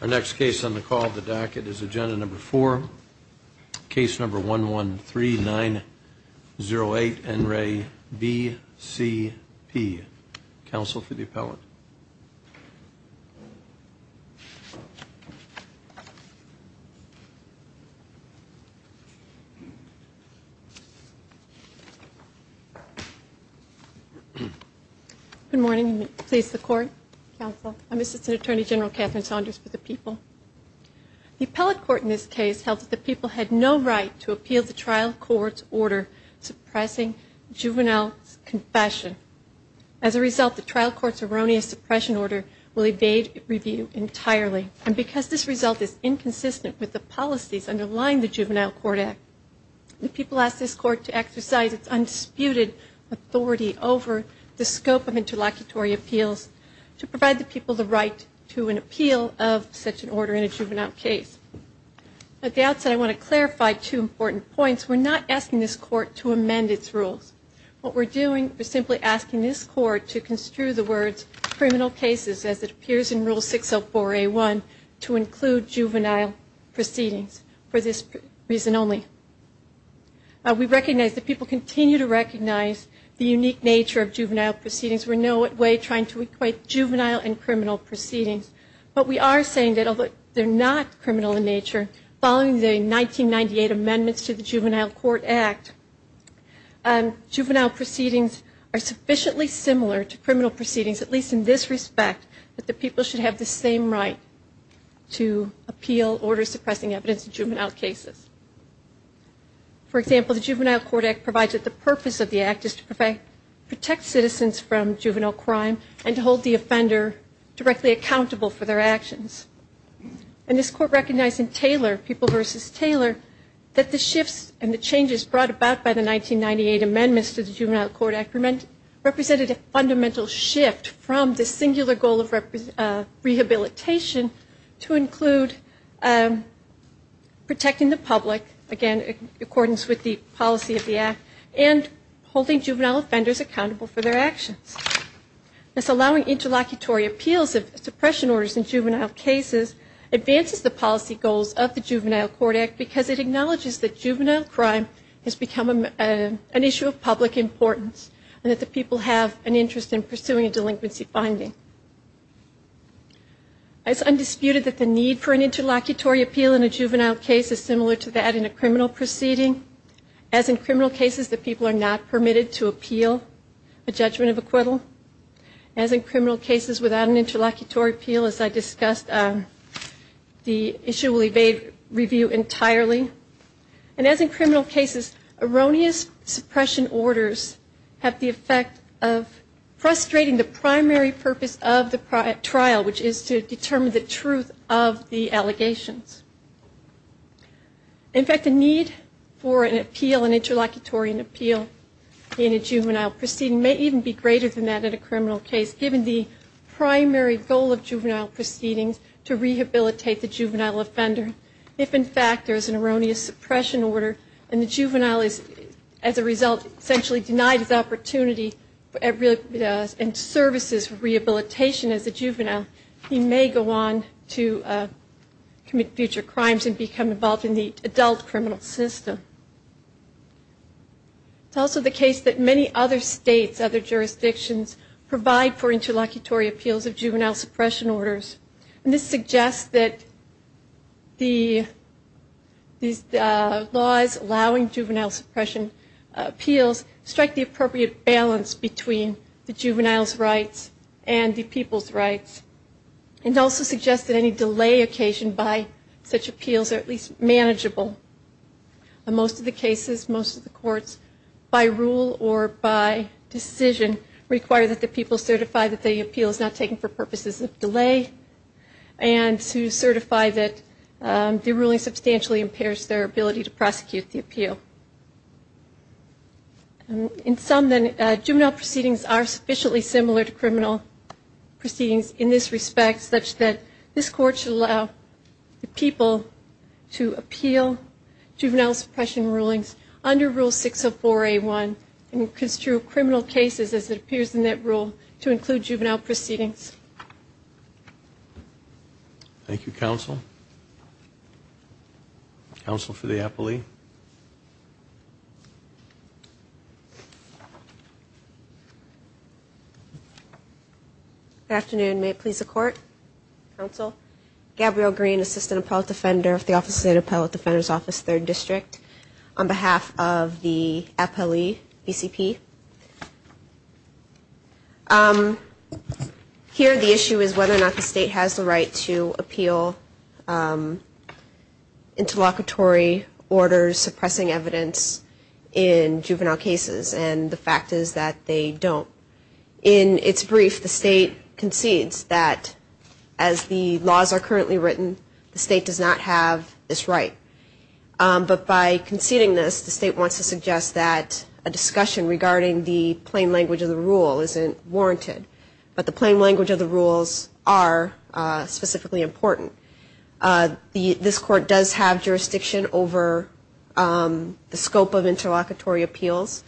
Our next case on the call the docket is agenda number four case number one one three nine zero eight and ray B.C.P. Council for the appellate. Good morning. Please support counsel. I'm assistant attorney general Catherine Saunders for the people. The appellate court in this case held that the people had no right to appeal the trial court's order suppressing juvenile confession. As a result, the trial court's erroneous suppression order will evade review entirely. And because this result is inconsistent with the policies underlying the juvenile court act, the people asked this court to exercise its undisputed authority over the scope of interlocutory appeals to provide the people the right to an appeal of such an order in a juvenile case. At the outset, I want to clarify two important points. We're not asking this court to amend its rules. What we're doing is simply asking this court to construe the words criminal cases as it appears in rule 604A1 to include juvenile proceedings for this reason only. We recognize that people continue to recognize the unique nature of juvenile proceedings. We're in no way trying to equate juvenile and criminal proceedings. But we are saying that although they're not criminal in nature, following the 1998 amendments to the juvenile court act, juvenile proceedings are sufficiently similar to criminal proceedings, at least in this respect, that the people should have the same right to appeal order suppressing evidence in juvenile cases. For example, the juvenile court act provides that the purpose of the act is to protect citizens from juvenile crime and to hold the offender directly accountable for their actions. And this court recognized in Taylor, People v. Taylor, that the shifts and the changes brought about by the 1998 amendments to the juvenile court act represented a fundamental shift from the singular goal of rehabilitation to include protecting the public, again, in accordance with the policy of the act, and holding juvenile offenders accountable for their actions. This allowing interlocutory appeals of suppression orders in juvenile cases advances the policy goals of the juvenile court act because it acknowledges that juvenile crime has become an issue of public importance and that the people have an interest in pursuing a delinquency finding. It's undisputed that the need for an interlocutory appeal in a juvenile case is similar to that in a criminal proceeding. As in criminal cases, the people are not permitted to appeal a judgment of acquittal. As in criminal cases without an interlocutory appeal, as I discussed, the issue will evade review entirely. And as in criminal cases, erroneous suppression orders have the effect of frustrating the primary purpose of the trial, which is to determine the truth of the allegations. In fact, the need for an appeal, an interlocutory appeal in a juvenile proceeding, may even be greater than that in a criminal case, given the primary goal of juvenile proceedings to rehabilitate the juvenile offender. If, in fact, there is an erroneous suppression order and the juvenile is, as a result, essentially denied his opportunity and services for rehabilitation as a juvenile, he may go on to commit future crimes and become involved in the adult criminal system. It's also the case that many other states, other jurisdictions, provide for interlocutory appeals of juvenile suppression orders. And this suggests that these laws allowing juvenile suppression appeals strike the appropriate balance between the juvenile's rights and the people's rights, and also suggests that any delay occasioned by such appeals are at least manageable. In most of the cases, most of the courts, by rule or by decision, require that the people certify that the appeal is not taken for purposes of delay and to certify that the ruling substantially impairs their ability to prosecute the appeal. In sum, then, juvenile proceedings are sufficiently similar to criminal proceedings in this respect, such that this Court should allow the people to appeal juvenile suppression rulings under Rule 604A1 and construe criminal cases, as it appears in that rule, to include juvenile proceedings. Thank you, Counsel. Counsel for the appellee. Good afternoon. May it please the Court. Counsel, Gabrielle Green, Assistant Appellate Defender of the Office of the State Appellate Defender's Office, 3rd District, on behalf of the appellee, BCP. Here the issue is whether or not the State has the right to appeal interlocutory orders suppressing evidence in juvenile cases, and the fact is that they don't. In its brief, the State concedes that, as the laws are currently written, the State does not have this right. But by conceding this, the State wants to suggest that a discussion regarding the plain language of the rule isn't warranted. But the plain language of the rules are specifically important. This Court does have jurisdiction over the scope of interlocutory appeals,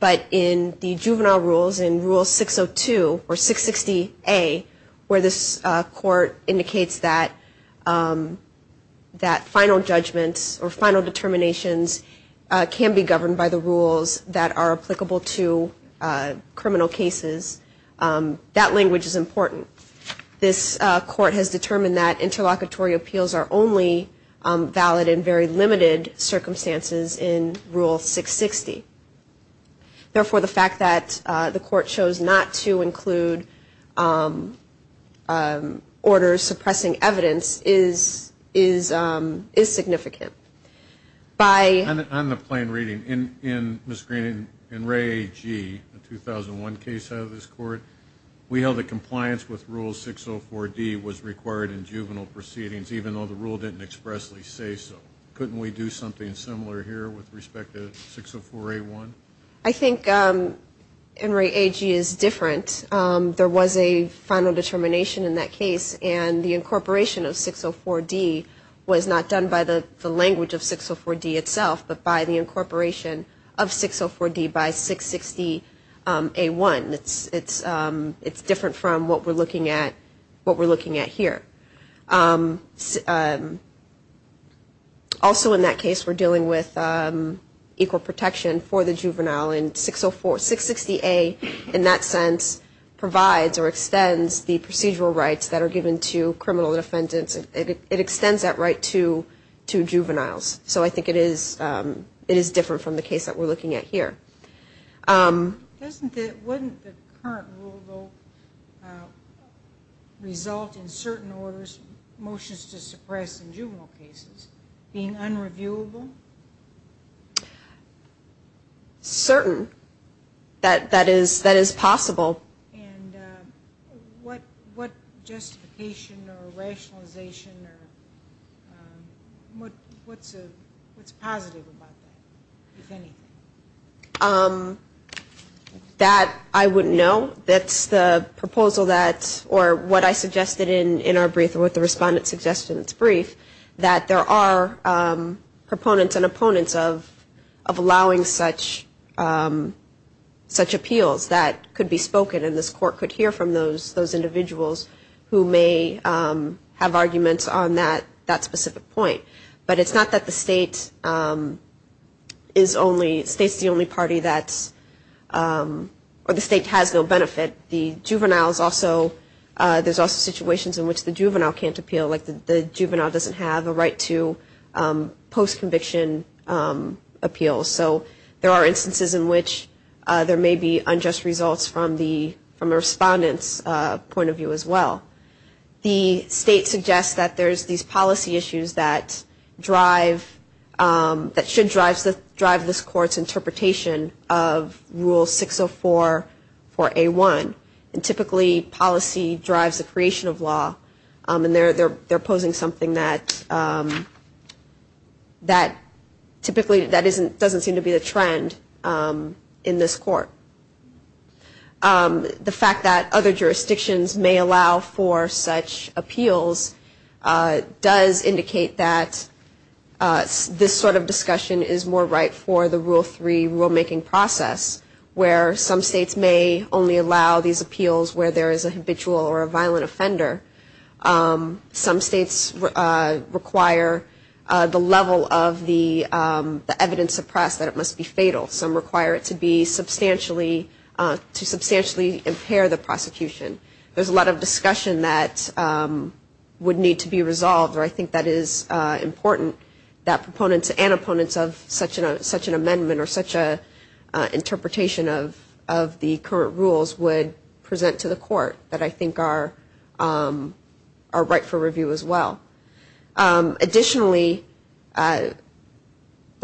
but in the juvenile rules, in Rule 602, or 660A, where this Court indicates that final judgments or final determinations can be governed by the rules that are applicable to criminal cases, that language is important. This Court has determined that interlocutory appeals are only valid in very limited circumstances in Rule 660. Therefore, the fact that the Court chose not to include orders suppressing evidence is significant. On the plain reading, Ms. Green and Ray G., a 2001 case out of this Court, we held that compliance with Rule 604D was required in juvenile proceedings, even though the rule didn't expressly say so. Couldn't we do something similar here with respect to 604A1? I think, and Ray G. is different, there was a final determination in that case, and the incorporation of 604D was not done by the language of 604D itself, but by the incorporation of 604D by 660A1. It's different from what we're looking at here. Also in that case, we're dealing with equal protection for the juvenile, and 660A, in that sense, provides or extends the procedural rights that are given to criminal defendants. It extends that right to juveniles, so I think it is different from the case that we're looking at here. Does the current rule, though, result in certain orders, motions to suppress in juvenile cases, being unreviewable? Certain. That is possible. And what justification or rationalization, what's positive about that, if anything? That I wouldn't know. That's the proposal that, or what I suggested in our brief, or what the respondent suggested in its brief, that there are proponents and opponents of allowing such appeals that could be spoken, and this court could hear from those individuals who may have arguments on that specific point. But it's not that the state is only, state's the only party that's, or the state has no benefit. The juveniles also, there's also situations in which the juvenile can't appeal, like the juvenile doesn't have a right to post-conviction appeal. So there are instances in which there may be unjust results from the, from a respondent's point of view as well. The state suggests that there's these policy issues that drive, that should drive this court's interpretation of Rule 604 for A1. And typically policy drives the creation of law, and they're posing something that typically doesn't seem to be the trend in this court. The fact that other jurisdictions may allow for such appeals does indicate that this sort of discussion is more right for the Rule 3 rule-making process, where some states may only allow these appeals where there is a habitual or a violent offender. Some states require the level of the evidence suppressed, that it must be fatal. Some require it to be substantially, to substantially impair the prosecution. There's a lot of discussion that would need to be resolved, or I think that is important, that proponents and opponents of such an amendment or such an interpretation of the current rules would present to the court that I think are right for review as well. Additionally, the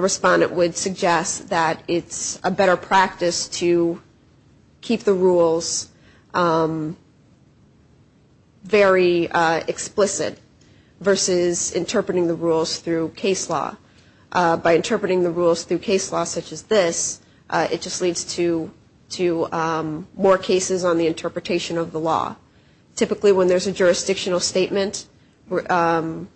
respondent would suggest that it's a better practice to keep the rules very explicit versus interpreting the rules through case law. By interpreting the rules through case law such as this, it just leads to more cases on the interpretation of the law. Typically when there's a jurisdictional statement allowing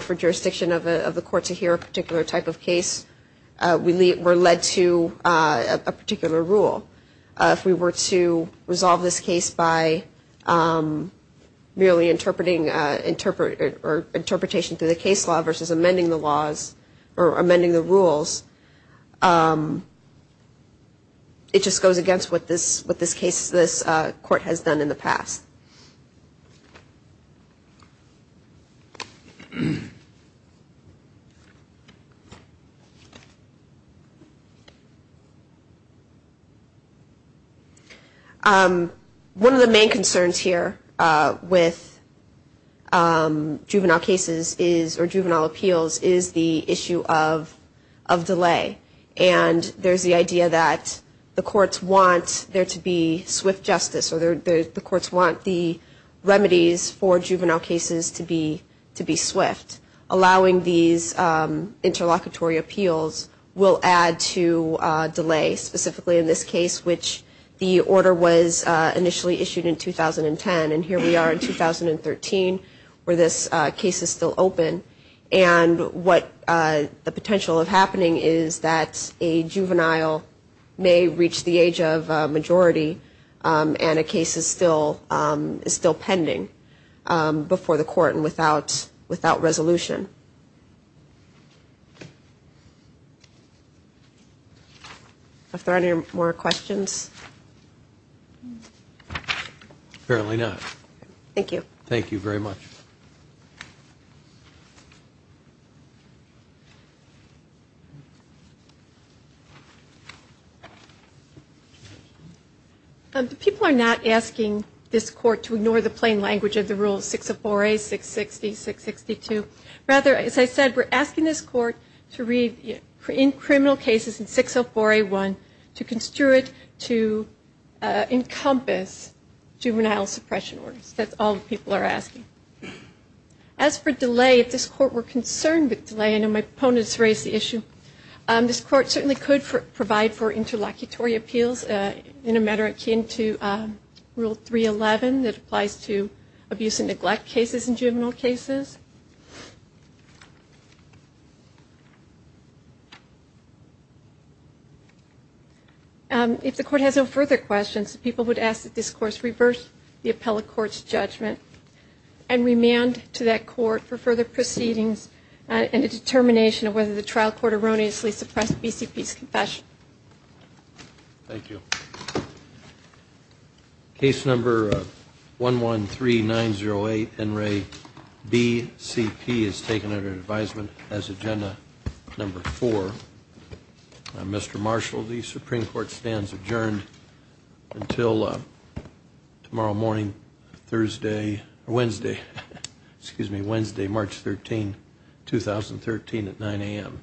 for jurisdiction of the court to hear a particular type of case, we're led to a particular rule. If we were to resolve this case by merely interpreting or interpretation through the case law versus amending the laws or amending the rules, it just goes against what this case, this court has done in the past. One of the main concerns here with juvenile cases is, or juvenile appeals, is the issue of delinquency. And there's the idea that the courts want there to be swift justice, or the courts want the remedies for juvenile cases to be swift. Allowing these interlocutory appeals will add to delay, specifically in this case, which the order was initially issued in 2010. And here we are in 2013 where this case is still open. And what the potential of happening is that a juvenile may reach the age of majority and a case is still pending before the court and without resolution. Are there any more questions? Apparently not. Thank you. Thank you very much. People are not asking this court to ignore the plain language of the rules, 604A, 660, 662. Rather, as I said, we're asking this court to read, in criminal cases in 604A1, to construe it to the extent that it is necessary to encompass juvenile suppression orders. That's all the people are asking. As for delay, if this court were concerned with delay, I know my opponents raised the issue. This court certainly could provide for interlocutory appeals in a matter akin to Rule 311 that applies to abuse and neglect cases in juvenile cases. If there are no further questions, the people would ask that this court reverse the appellate court's judgment and remand to that court for further proceedings and a determination of whether the trial court erroneously suppressed BCP's confession. Thank you. Case number 113908, NRA BCP is taken under advisement as agenda number 4. Mr. Marshall, the Supreme Court stands adjourned until tomorrow morning, Wednesday, March 13, 2013 at 9 a.m.